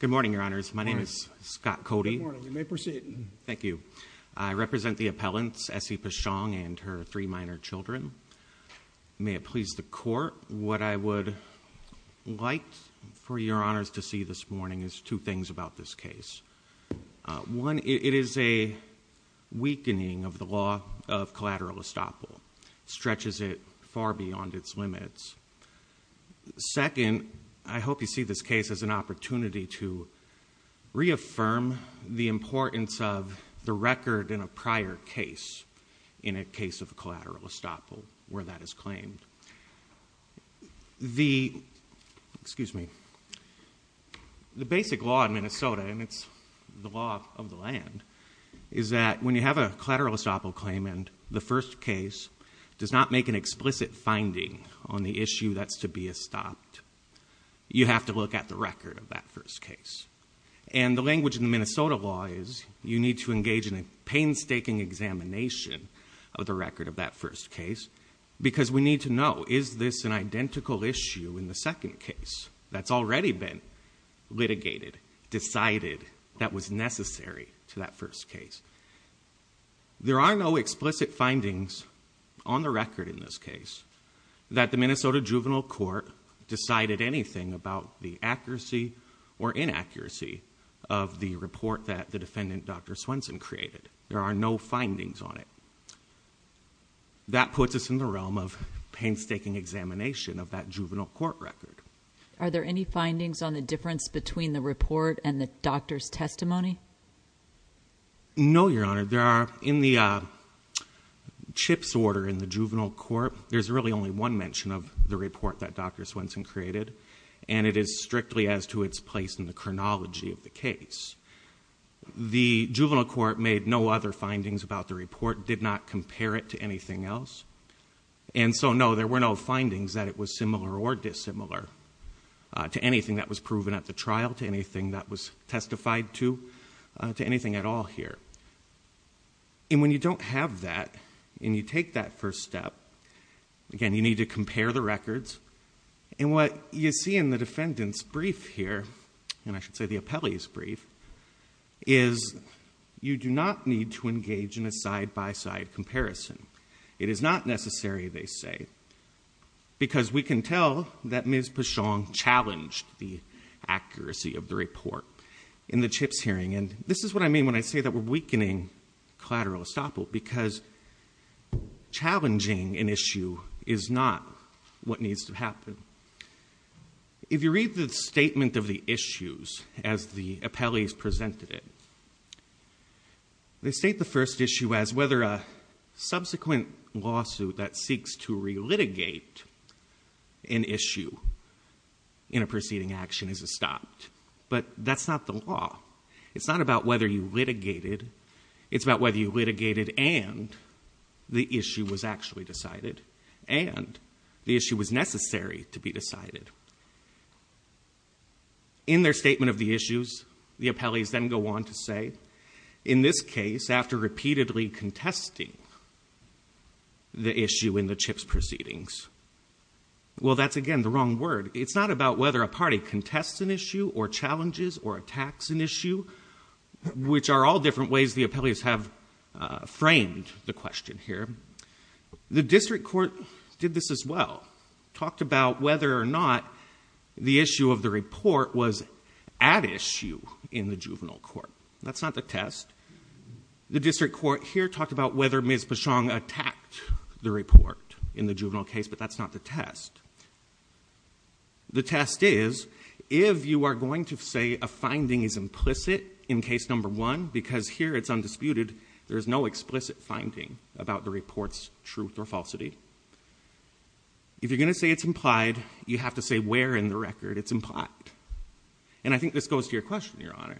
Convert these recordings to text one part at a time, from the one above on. Good morning, Your Honors. My name is Scott Cody. Good morning. You may proceed. Thank you. I represent the appellants, Essie Peschong and her three minor children. May it please the Court, what I would like for Your Honors to see this morning is two things about this case. One, it is a weakening of the law of collateral estoppel. It stretches it far beyond its limits. Second, I hope you see this case as an opportunity to reaffirm the importance of the record in a prior case in a case of collateral estoppel where that is claimed. The basic law in Minnesota, and it's the law of the land, is that when you make an explicit finding on the issue that's to be estopped, you have to look at the record of that first case. And the language in the Minnesota law is you need to engage in a painstaking examination of the record of that first case because we need to know, is this an identical issue in the second case that's already been litigated, decided, that was necessary to that first case. There are no explicit findings on the record in this case that the Minnesota Juvenile Court decided anything about the accuracy or inaccuracy of the report that the defendant, Dr. Swenson, created. There are no findings on it. That puts us in the realm of painstaking examination of that juvenile court record. Are there any findings on the difference between the report and the doctor's testimony? No, Your Honor. There are, in the CHIPS order in the Juvenile Court, there's really only one mention of the report that Dr. Swenson created, and it is strictly as to its place in the chronology of the case. The Juvenile Court made no other findings about the report, did not compare it to anything else. And so, no, there were no findings that it was similar or dissimilar to anything that was proven at the trial, to anything that was testified to, to anything at all here. And when you don't have that, and you take that first step, again, you need to compare the records. And what you see in the defendant's brief here, and I should say the appellee's brief, is you do not need to engage in a side-by-side comparison. It is not necessary, they say, because we can tell that Ms. Pichon challenged the accuracy of the report in the CHIPS hearing. And this is what I mean when I say that we're weakening collateral estoppel, because challenging an issue is not what needs to happen. If you read the statement of the issues as the appellees presented it, they state the first issue as whether a subsequent lawsuit that seeks to re-litigate an issue in a preceding action is estopped. But that's not the law. It's not about whether you litigated, it's about whether you litigated and the issue was actually decided, and the issue was necessary to be decided. In their statement of the issues, the appellees then go on to say, in this case, after repeatedly contesting the issue in the CHIPS proceedings. Well, that's again the wrong word. It's not about whether a party contests an issue or challenges or attacks an issue, which are all different ways the appellees have framed the question here. The district court did this as well, talked about whether or not the issue of the report was an at issue in the juvenile court. That's not the test. The district court here talked about whether Ms. Pashong attacked the report in the juvenile case, but that's not the test. The test is, if you are going to say a finding is implicit in case number one, because here it's undisputed, there's no explicit finding about the report's truth or falsity. If you're going to say it's implied, you have to say where in the record it's implied. And I think this goes to your question, Your Honor.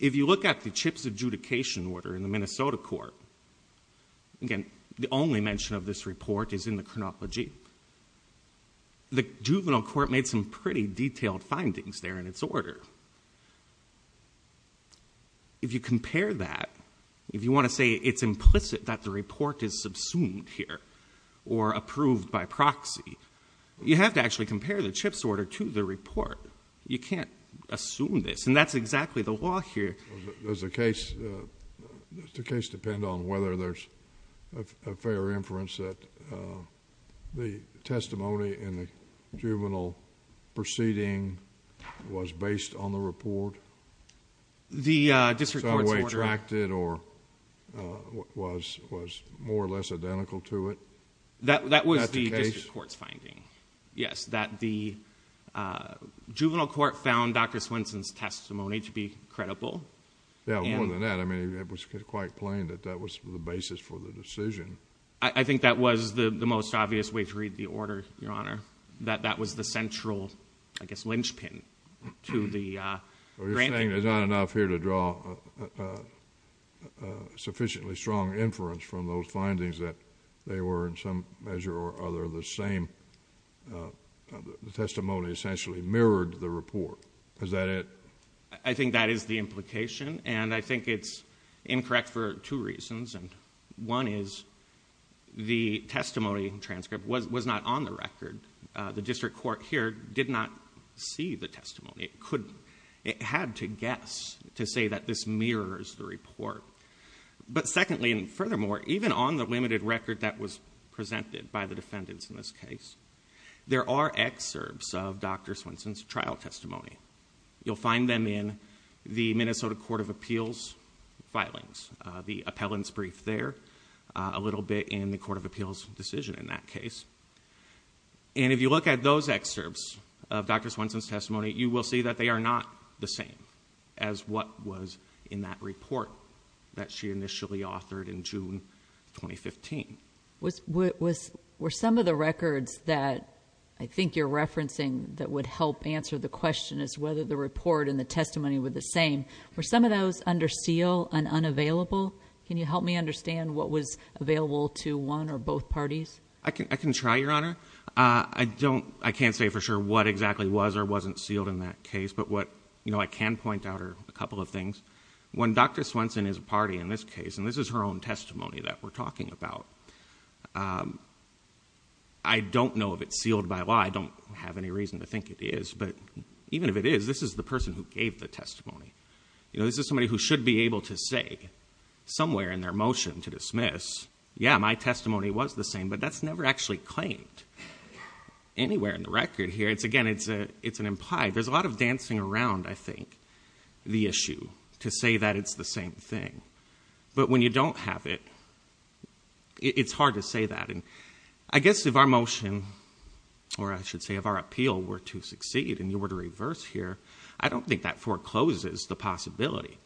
If you look at the CHIPS adjudication order in the Minnesota court, again, the only mention of this report is in the chronology. The juvenile court made some pretty detailed findings there in its order. If you compare that, if you have to actually compare the CHIPS order to the report, you can't assume this. And that's exactly the law here. Does the case depend on whether there's a fair inference that the testimony in the juvenile proceeding was based on the report? The district court's order. Some way tracked it or was more or less identical to it? That was the district court's finding, yes, that the juvenile court found Dr. Swenson's testimony to be credible. Yeah, more than that. I mean, it was quite plain that that was the basis for the decision. I think that was the most obvious way to read the order, Your Honor, that that was the central, I guess, linchpin to the granting. Well, you're saying there's not enough here to draw a sufficiently strong inference from those findings that they were in some measure or other the same. The testimony essentially mirrored the report. Is that it? I think that is the implication. And I think it's incorrect for two reasons. One is the testimony transcript was not on the record. The district court here did not see the testimony. It had to guess to say that this mirrors the report. But secondly and furthermore, even on the limited record that was presented by the defendants in this case, there are excerpts of Dr. Swenson's trial testimony. You'll find them in the Minnesota Court of Appeals filings, the appellant's brief there, a little bit in the Court of Appeals decision in that case. You'll see that they are not the same as what was in that report that she initially authored in June 2015. Were some of the records that I think you're referencing that would help answer the question is whether the report and the testimony were the same, were some of those under seal and unavailable? Can you help me understand what was available to one or both parties? I can try, Your Honor. I don't, I can't say for sure what exactly was or wasn't sealed in that case, but what, you know, I can point out are a couple of things. When Dr. Swenson is a party in this case, and this is her own testimony that we're talking about, I don't know if it's sealed by law. I don't have any reason to think it is. But even if it is, this is the person who gave the testimony. You know, this is somebody who should be able to say somewhere in their motion to dismiss, yeah, my testimony was the same, but that's where in the record here, it's again, it's an implied, there's a lot of dancing around, I think, the issue to say that it's the same thing. But when you don't have it, it's hard to say that. And I guess if our motion, or I should say if our appeal were to succeed and you were to reverse here, I don't think that forecloses the possibility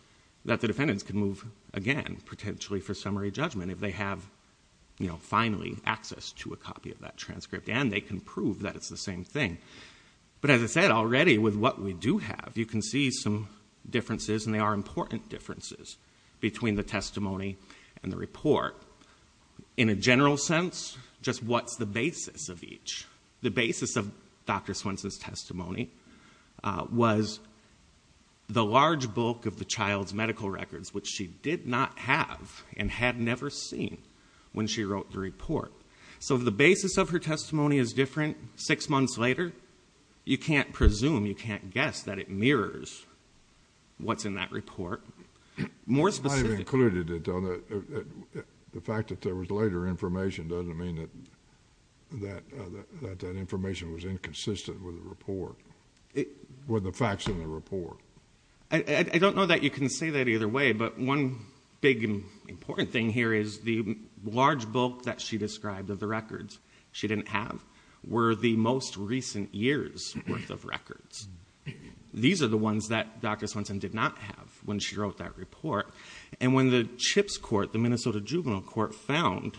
that the defendants can move again, potentially for summary judgment if they have, you know, finally access to a copy of that transcript, and they can prove that it's the same thing. But as I said already, with what we do have, you can see some differences, and they are important differences between the testimony and the report. In a general sense, just what's the basis of each? The basis of Dr. Swenson's testimony was the large bulk of the child's medical records, which she did not have and had never seen when she wrote the report. So if the basis of her testimony is different six months later, you can't presume, you can't guess that it mirrors what's in that report. More specifically... You might have included it, though, that the fact that there was later information doesn't mean that that information was inconsistent with the report, with the facts in the report. I don't know that you can say that either way, but one big, important thing here is the large bulk that she described of the records she didn't have were the most recent years worth of records. These are the ones that Dr. Swenson did not have when she wrote that report. And when the CHIPS Court, the Minnesota Juvenile Court, found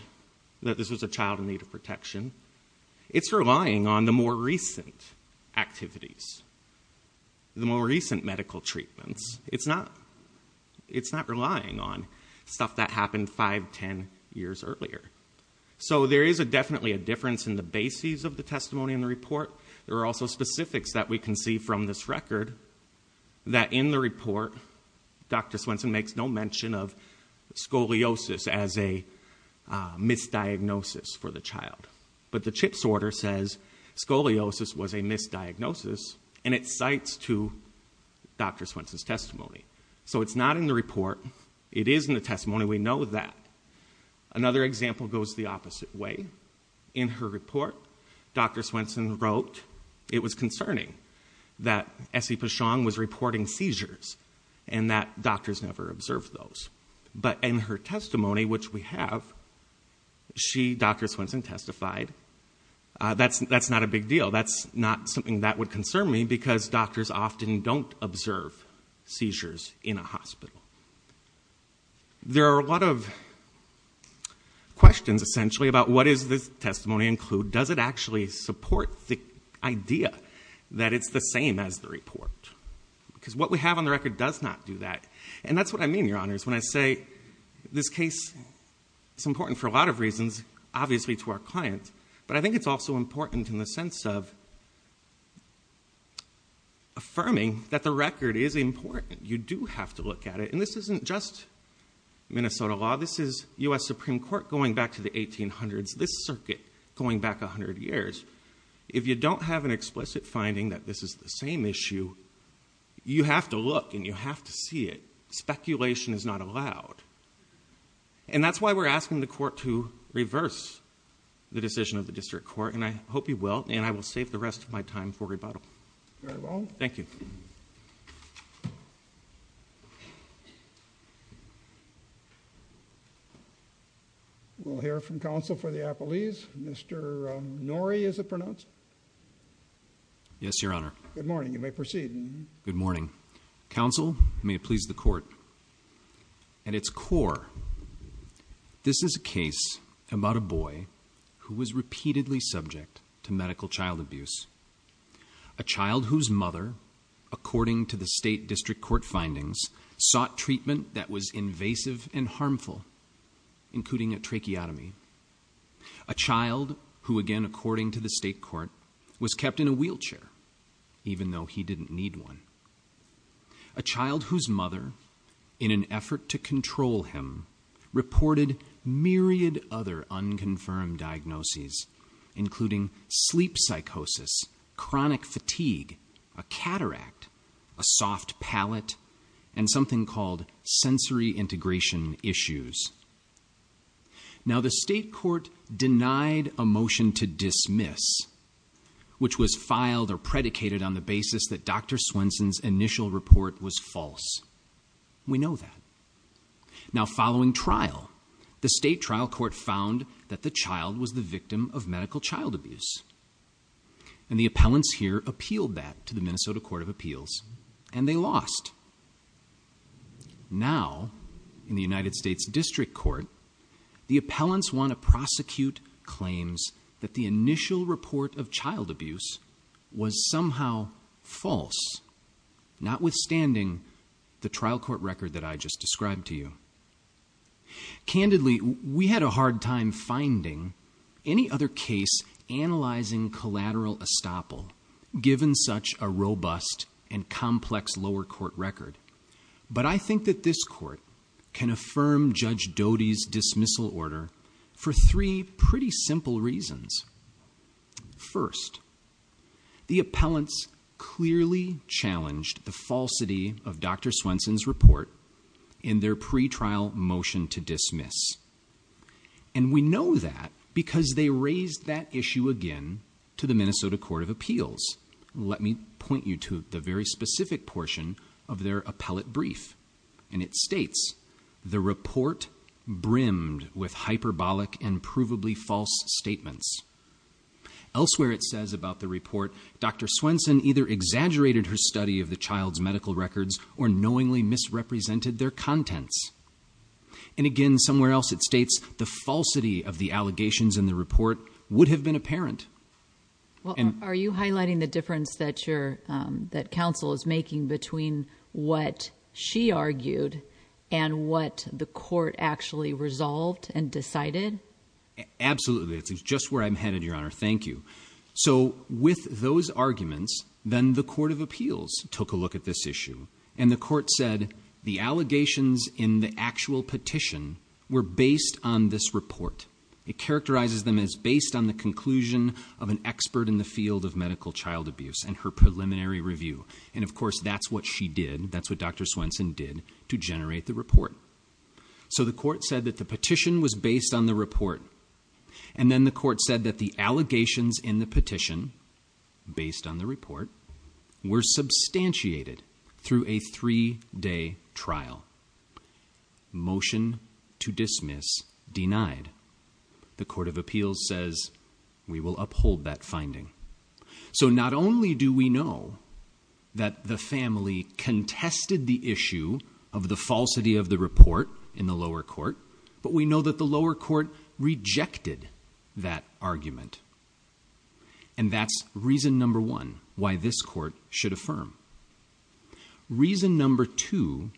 that this was a child in need of protection, it's relying on the more recent activities, the more recent medical treatments. It's not relying on stuff that happened five, ten years earlier. So there is definitely a difference in the basis of the testimony in the report. There are also specifics that we can see from this record that in the report, Dr. Swenson makes no mention of scoliosis as a misdiagnosis for the child. But the CHIPS order says scoliosis was a misdiagnosis, and it cites to Dr. Swenson's testimony. So it's not in the report. It is in the testimony. We know that. Another example goes the opposite way. In her report, Dr. Swenson wrote it was concerning that Essie Pichon was reporting seizures and that doctors never observed those. But in her testimony, which we have, she, Dr. Swenson, testified, that's not a big deal. That's not something that would concern me because doctors often don't observe seizures in a hospital. There are a lot of questions, essentially, about what does this testimony include? Does it actually support the idea that it's the same as the report? Because what we have on the record does not do that. And that's what I mean, Your Honors, when I say this case is important for a lot of reasons, obviously to our client, but I think it's also important in the sense of affirming that the record is important. You do have to look at it. And this isn't just Minnesota law. This is U.S. Supreme Court going back to the 1800s, this is the same issue. You have to look and you have to see it. Speculation is not allowed. And that's why we're asking the Court to reverse the decision of the District Court, and I hope you will, and I will save the rest of my time for rebuttal. Very well. Thank you. We'll hear from Counsel for the Appellees. Mr. Norrie, is it pronounced? Yes, Your Honor. Good morning. You may proceed. Good morning. Counsel, may it please the Court. At its core, this is a case about a boy who was repeatedly subject to medical child abuse. A child whose mother, according to the State District Court findings, sought treatment that was invasive and harmful, including a tracheotomy. A child who, again, according to the State Court, was kept in a wheelchair, even though he didn't need one. A child whose mother, in an effort to control him, reported myriad other unconfirmed diagnoses, including sleep psychosis, chronic fatigue, a cataract, a soft palate, and something called sensory integration issues. Now, the State Court denied a motion to dismiss, which was filed or predicated on the basis that Dr. Swenson's initial report was false. We know that. Now, following trial, the State Trial Court found that the child was the victim of medical child abuse. And the appellants here appealed that to the Minnesota Court of Appeals, and they lost. Now, in the United States District Court, the appellants want to prosecute claims that the initial report of child abuse was somehow false, not withstanding the trial court record that I just described to you. Candidly, we had a hard time finding any other case analyzing collateral estoppel, given such a robust and complex lower court record. But I think that this court can affirm Judge Doty's dismissal order for three pretty simple reasons. First, the appellants clearly challenged the false authenticity of Dr. Swenson's report in their pretrial motion to dismiss. And we know that because they raised that issue again to the Minnesota Court of Appeals. Let me point you to the very specific portion of their appellate brief. And it states, the report brimmed with hyperbolic and provably false statements. Elsewhere, it says about the report, Dr. Swenson either exaggerated her study of the child's medical records or knowingly misrepresented their contents. And again, somewhere else it states, the falsity of the allegations in the report would have been apparent. Are you highlighting the difference that counsel is making between what she argued and what the court actually resolved and decided? Absolutely. It's just where I'm headed, Your Honor. Thank you. So with those arguments, then the Court of Appeals took a look at this issue. And the court said, the allegations in the actual petition were based on this report. It characterizes them as based on the conclusion of an expert in the field of medical child abuse and her preliminary review. And of course, that's what she did. That's what Dr. Swenson did to generate the report. So the court said that the petition was based on the report. And then the court said that the allegations in the petition based on the report were substantiated through a three day trial. Motion to dismiss denied. The Court of Appeals says we will uphold that finding. So not only do we know that the family contested the issue of the falsity of the report in the lower court, but we know that the lower court rejected that argument. And that's reason number one why this court should affirm. Reason number two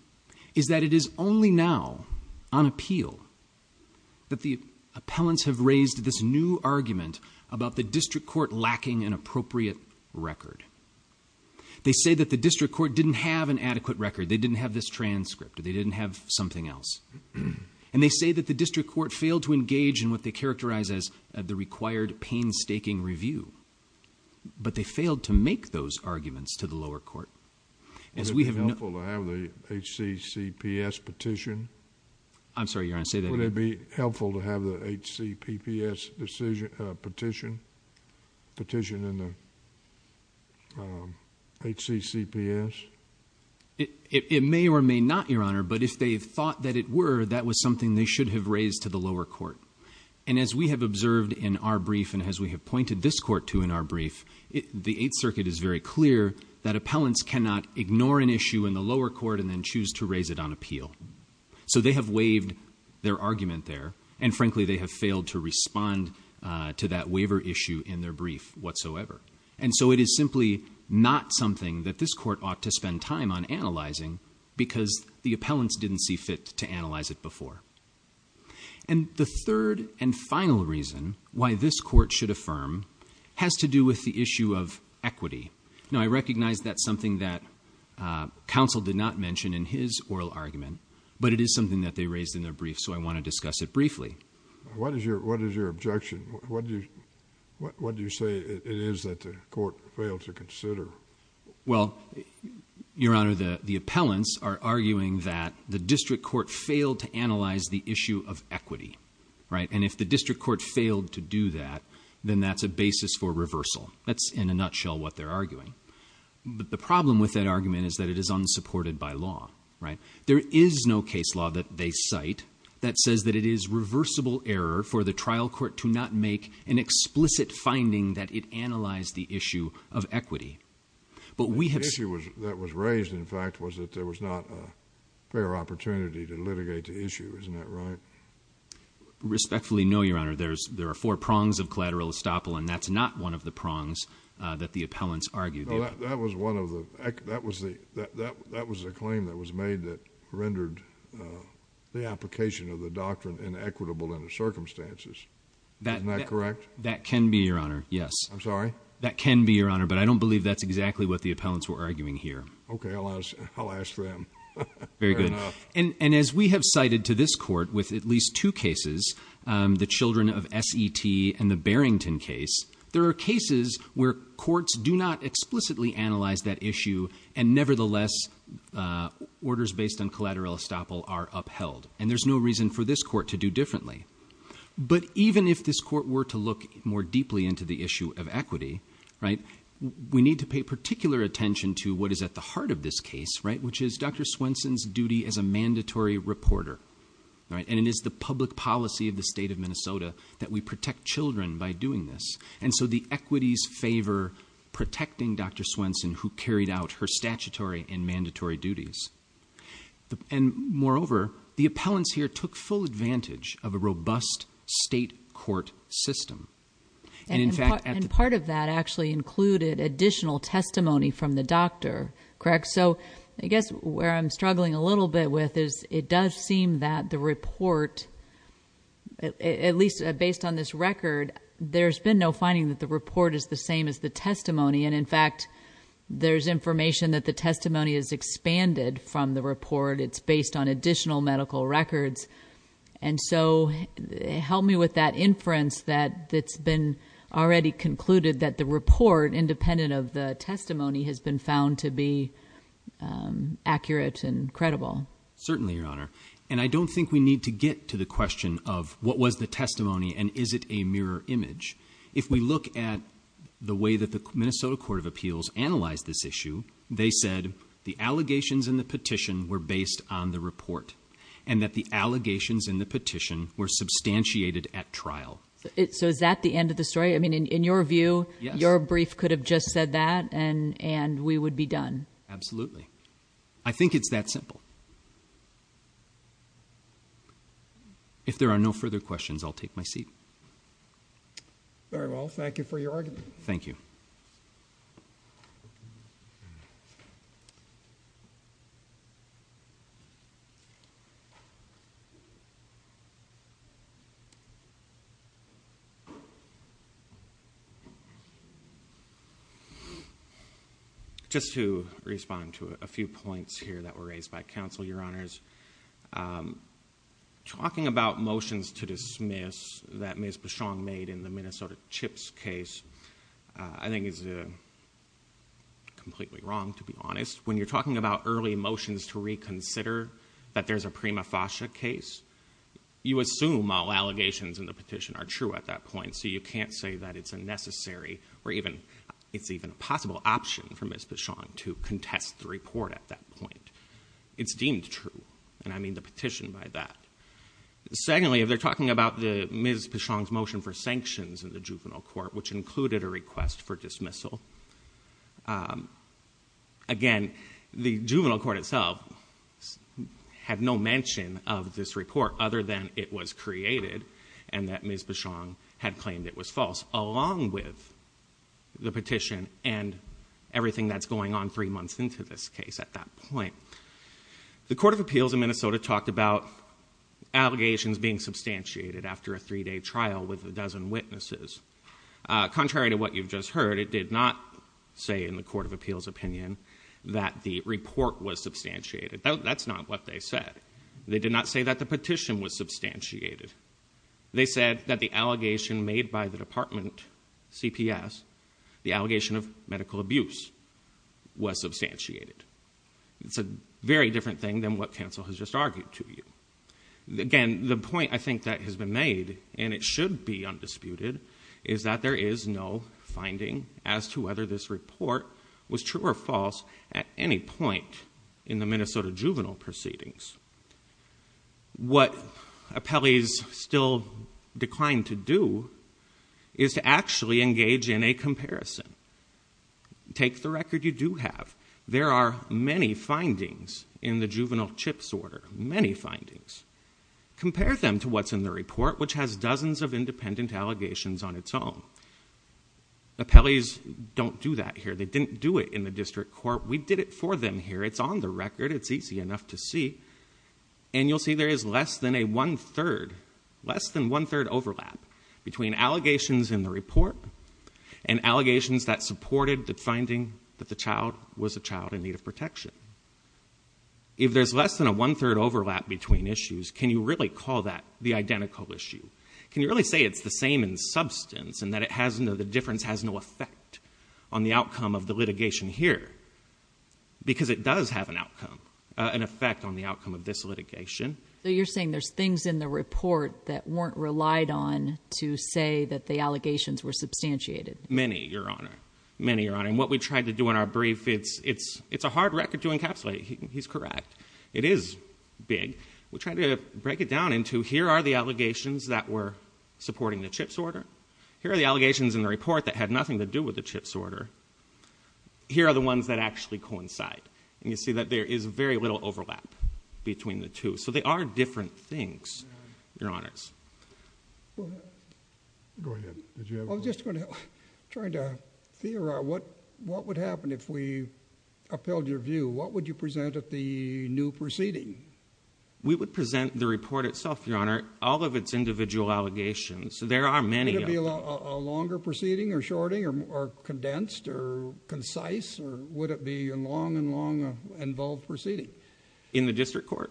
is that it is only now on appeal that the appellants have raised this new argument about the district court lacking an appropriate record. They say that the district court didn't have an adequate record. They didn't have this transcript. They didn't have something else. And they say that the district court failed to engage in what they characterize as the required painstaking review. But they failed to make those arguments to the lower court. Would it be helpful to have the HCCPS petition? I'm sorry, you want to say that again? Would it be helpful to have the HCCPS petition? Petition in the HCCPS? It may or may not, Your Honor, but if they thought that it were, that was something they should have raised to the lower court. And as we have observed in our brief and as we have pointed this court to in our brief, the Eighth Circuit is very clear that appellants cannot ignore an issue in the lower court and then choose to raise it on appeal. So they have waived their argument there. And frankly, they have failed to respond to that waiver issue in their brief whatsoever. And so it is simply not something that this court ought to spend time on analyzing because the appellants didn't see fit to analyze it before. And the third and final reason why this court should affirm has to do with the issue of equity. Now, I recognize that's something that counsel did not mention in his oral argument, but it is something that they raised in their brief, so I want to discuss it briefly. What is your objection? What do you say it is that the court failed to consider? Well, Your Honor, the appellants are arguing that the district court failed to analyze the issue of equity, right? And if the district court failed to do that, then that's a basis for reversal. That's in a nutshell what they're arguing. But the problem with that argument is that it is unsupported by law, right? There is no case law that they cite that says that it is reversible error for the trial court to not make an explicit finding that it analyzed the issue of equity. But we have... The issue that was raised, in fact, was that there was not a fair opportunity to litigate the issue. Isn't that right? Respectfully, no, Your Honor. There are four prongs of collateral estoppel, and that's not one of the prongs that the appellants argued. No, that was one of the... That was the claim that was made that rendered the application of the doctrine inequitable in the circumstances. Isn't that correct? That can be, Your Honor, yes. I'm sorry? That can be, Your Honor, but I don't believe that's exactly what the appellants were arguing here. Okay, I'll ask them. Very good. And as we have cited to this court with at least two cases, the Children of S.E.T. and the Barrington case, there are cases where courts do not explicitly analyze that issue, and nevertheless, orders based on collateral estoppel are upheld. And there's no reason for this court to do differently. But even if this court were to look more deeply into the issue of equity, right, we need to pay particular attention to what is at the heart of this case, right, which is Dr. Swenson's duty as a mandatory reporter, right? And it is the public policy of the state of Minnesota that we protect children by doing this. And so the equities favor protecting Dr. Swenson, who carried out her statutory and mandatory duties. And moreover, the appellants here took full advantage of a robust state court system. And in fact, at the- And part of that actually included additional testimony from the doctor, correct? So I guess where I'm struggling a little bit with is it does seem that the report, at least based on this record, there's been no finding that the report is the same as the testimony. And in fact, there's information that the testimony is expanded from the report. It's based on additional medical records. And so help me with that inference that it's been already concluded that the report, independent of the testimony, has been found to be accurate and credible. Certainly, Your Honor. And I don't think we need to get to the question of what was the testimony and is it a mirror image. If we look at the way that the Minnesota Court of Appeals analyzed this issue, they said the allegations in the petition were based on the report and that the allegations in the petition were substantiated at trial. So is that the end of the story? I mean, in your view, your brief could have just said that and we would be done. Absolutely. I think it's that simple. If there are no further questions, I'll take my seat. Very well. Thank you for your argument. Thank you. Just to respond to a few points here that were raised by counsel, Your Honors, talking about motions to dismiss that Ms. Bichon made in the Minnesota Chips case, I think is completely wrong, to be honest. When you're talking about early motions to reconsider that there's a you can't say that it's a necessary or even it's even a possible option for Ms. Bichon to contest the report at that point. It's deemed true. And I mean the petition by that. Secondly, if they're talking about Ms. Bichon's motion for sanctions in the juvenile court, which included a request for dismissal, again, the juvenile court itself had no mention of this report other than it was created and that Ms. Bichon had claimed it was false along with the petition and everything that's going on three months into this case at that point. The Court of Appeals in Minnesota talked about allegations being substantiated after a three-day trial with a dozen witnesses. Contrary to what you've just heard, it did not say in the Court of Appeals opinion that the report was substantiated. That's not what they said. They did not say that the petition was substantiated. They said that the allegation made by the department, CPS, the allegation of medical abuse, was substantiated. It's a very different thing than what counsel has just argued to you. Again, the point I think that has been made and it should be undisputed is that there is no finding as to whether this report was true or false at any point in the Minnesota juvenile proceedings. What appellees still decline to do is to actually engage in a comparison. Take the record you do have. There are many findings in the juvenile chips order, many findings. Compare them to what's in the report, which has dozens of independent allegations on its own. Appellees don't do that here. They didn't do it in the district court. We did it for them here. It's on the record. It's easy enough to see. You'll see there is less than a one-third overlap between allegations in the report and allegations that supported the finding that the child was a child in need of protection. If there's less than a one-third overlap between issues, can you really call that the identical issue? Can you really say it's the same in substance and that the difference has no effect on the outcome of the litigation here? Because it does have an effect on the outcome of this litigation. So you're saying there's things in the report that weren't relied on to say that the allegations were substantiated? Many, Your Honor. Many, Your Honor. What we tried to do in our brief, it's a hard record to encapsulate. He's correct. It is big. We tried to break it down into here are the allegations that were supporting the CHIPS order. Here are the allegations in the report that had nothing to do with the CHIPS order. Here are the ones that actually coincide. And you see that there is very little overlap between the two. So they are different things, Your Honors. Go ahead. Did you have a question? I was just going to try to theorize what would happen if we upheld your view. What would you present at the new proceeding? We would present the report itself, Your Honor. All of its individual allegations. There are many of them. Would it be a longer proceeding, or shorting, or condensed, or concise? Or would it be a long and long involved proceeding? In the district court.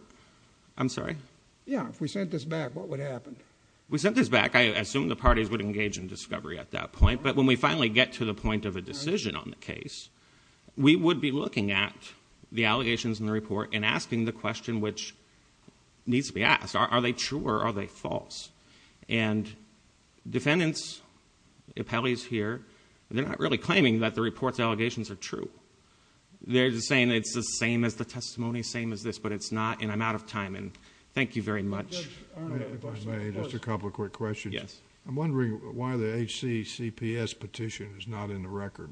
I'm sorry? Yeah. If we sent this back, what would happen? We sent this back. I assume the parties would engage in discovery at that point. But when we finally get to the point of a decision on the case, we would be looking at the allegations in the report and asking the question which needs to be asked. Are they true, or are they false? And defendants, appellees here, they're not really claiming that the report's allegations are true. They're just saying it's the same as the testimony, same as this. But it's not. And I'm out of time. And thank you very much. Judge, if I may, just a couple of quick questions. Yes. I'm wondering why the HCCPS petition is not in the record.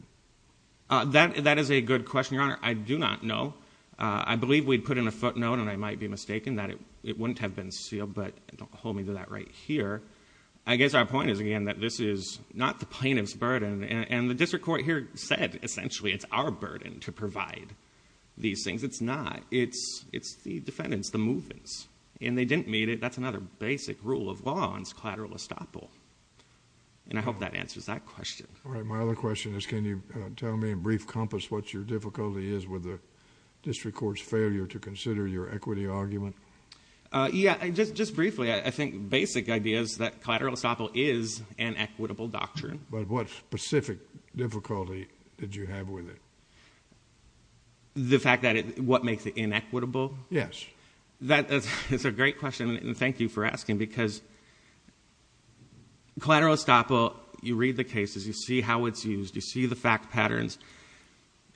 That is a good question, Your Honor. I do not know. I believe we put in a footnote, and I might be mistaken, that it wouldn't have been sealed. But hold me to that right here. I guess our point is, again, that this is not the plaintiff's burden. And the district court here said, essentially, it's our burden to provide these things. It's not. It's the defendants, the movements. And they didn't meet it. That's another basic rule of law on collateral estoppel. And I hope that answers that question. All right. My other question is, can you tell me in brief compass what your difficulty is with the district court's failure to consider your equity argument? Yeah. Just briefly, I think basic idea is that collateral estoppel is an equitable doctrine. But what specific difficulty did you have with it? The fact that it, what makes it inequitable? Yes. That is a great question. And thank you for asking. Because collateral estoppel, you read the cases. You see how it's used. You see the fact patterns.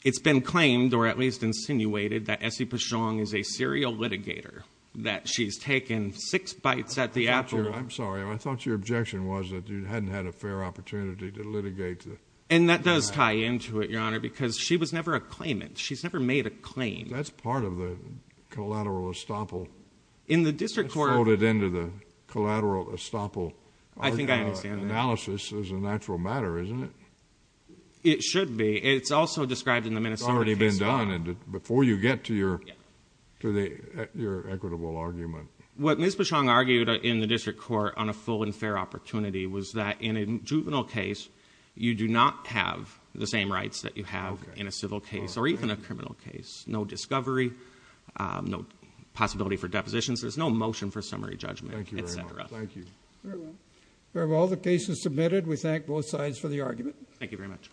It's been claimed, or at least insinuated, that Essie Pichon is a serial litigator, that she's taken six bites at the apple. I'm sorry. I thought your objection was that you hadn't had a fair opportunity to litigate the fact. And that does tie into it, Your Honor, because she was never a claimant. She's never made a claim. That's part of the collateral estoppel. In the district court You brought it into the collateral estoppel analysis as a natural matter, isn't it? It should be. It's also described in the Minnesota case law. It's already been done. And before you get to your equitable argument. What Ms. Pichon argued in the district court on a full and fair opportunity was that in a juvenile case, you do not have the same rights that you have in a civil case or even a criminal case. No discovery. No possibility for depositions. There's no motion for summary judgment, et cetera. Thank you very much. Thank you. Very well. We have all the cases submitted. We thank both sides for the argument. Thank you very much.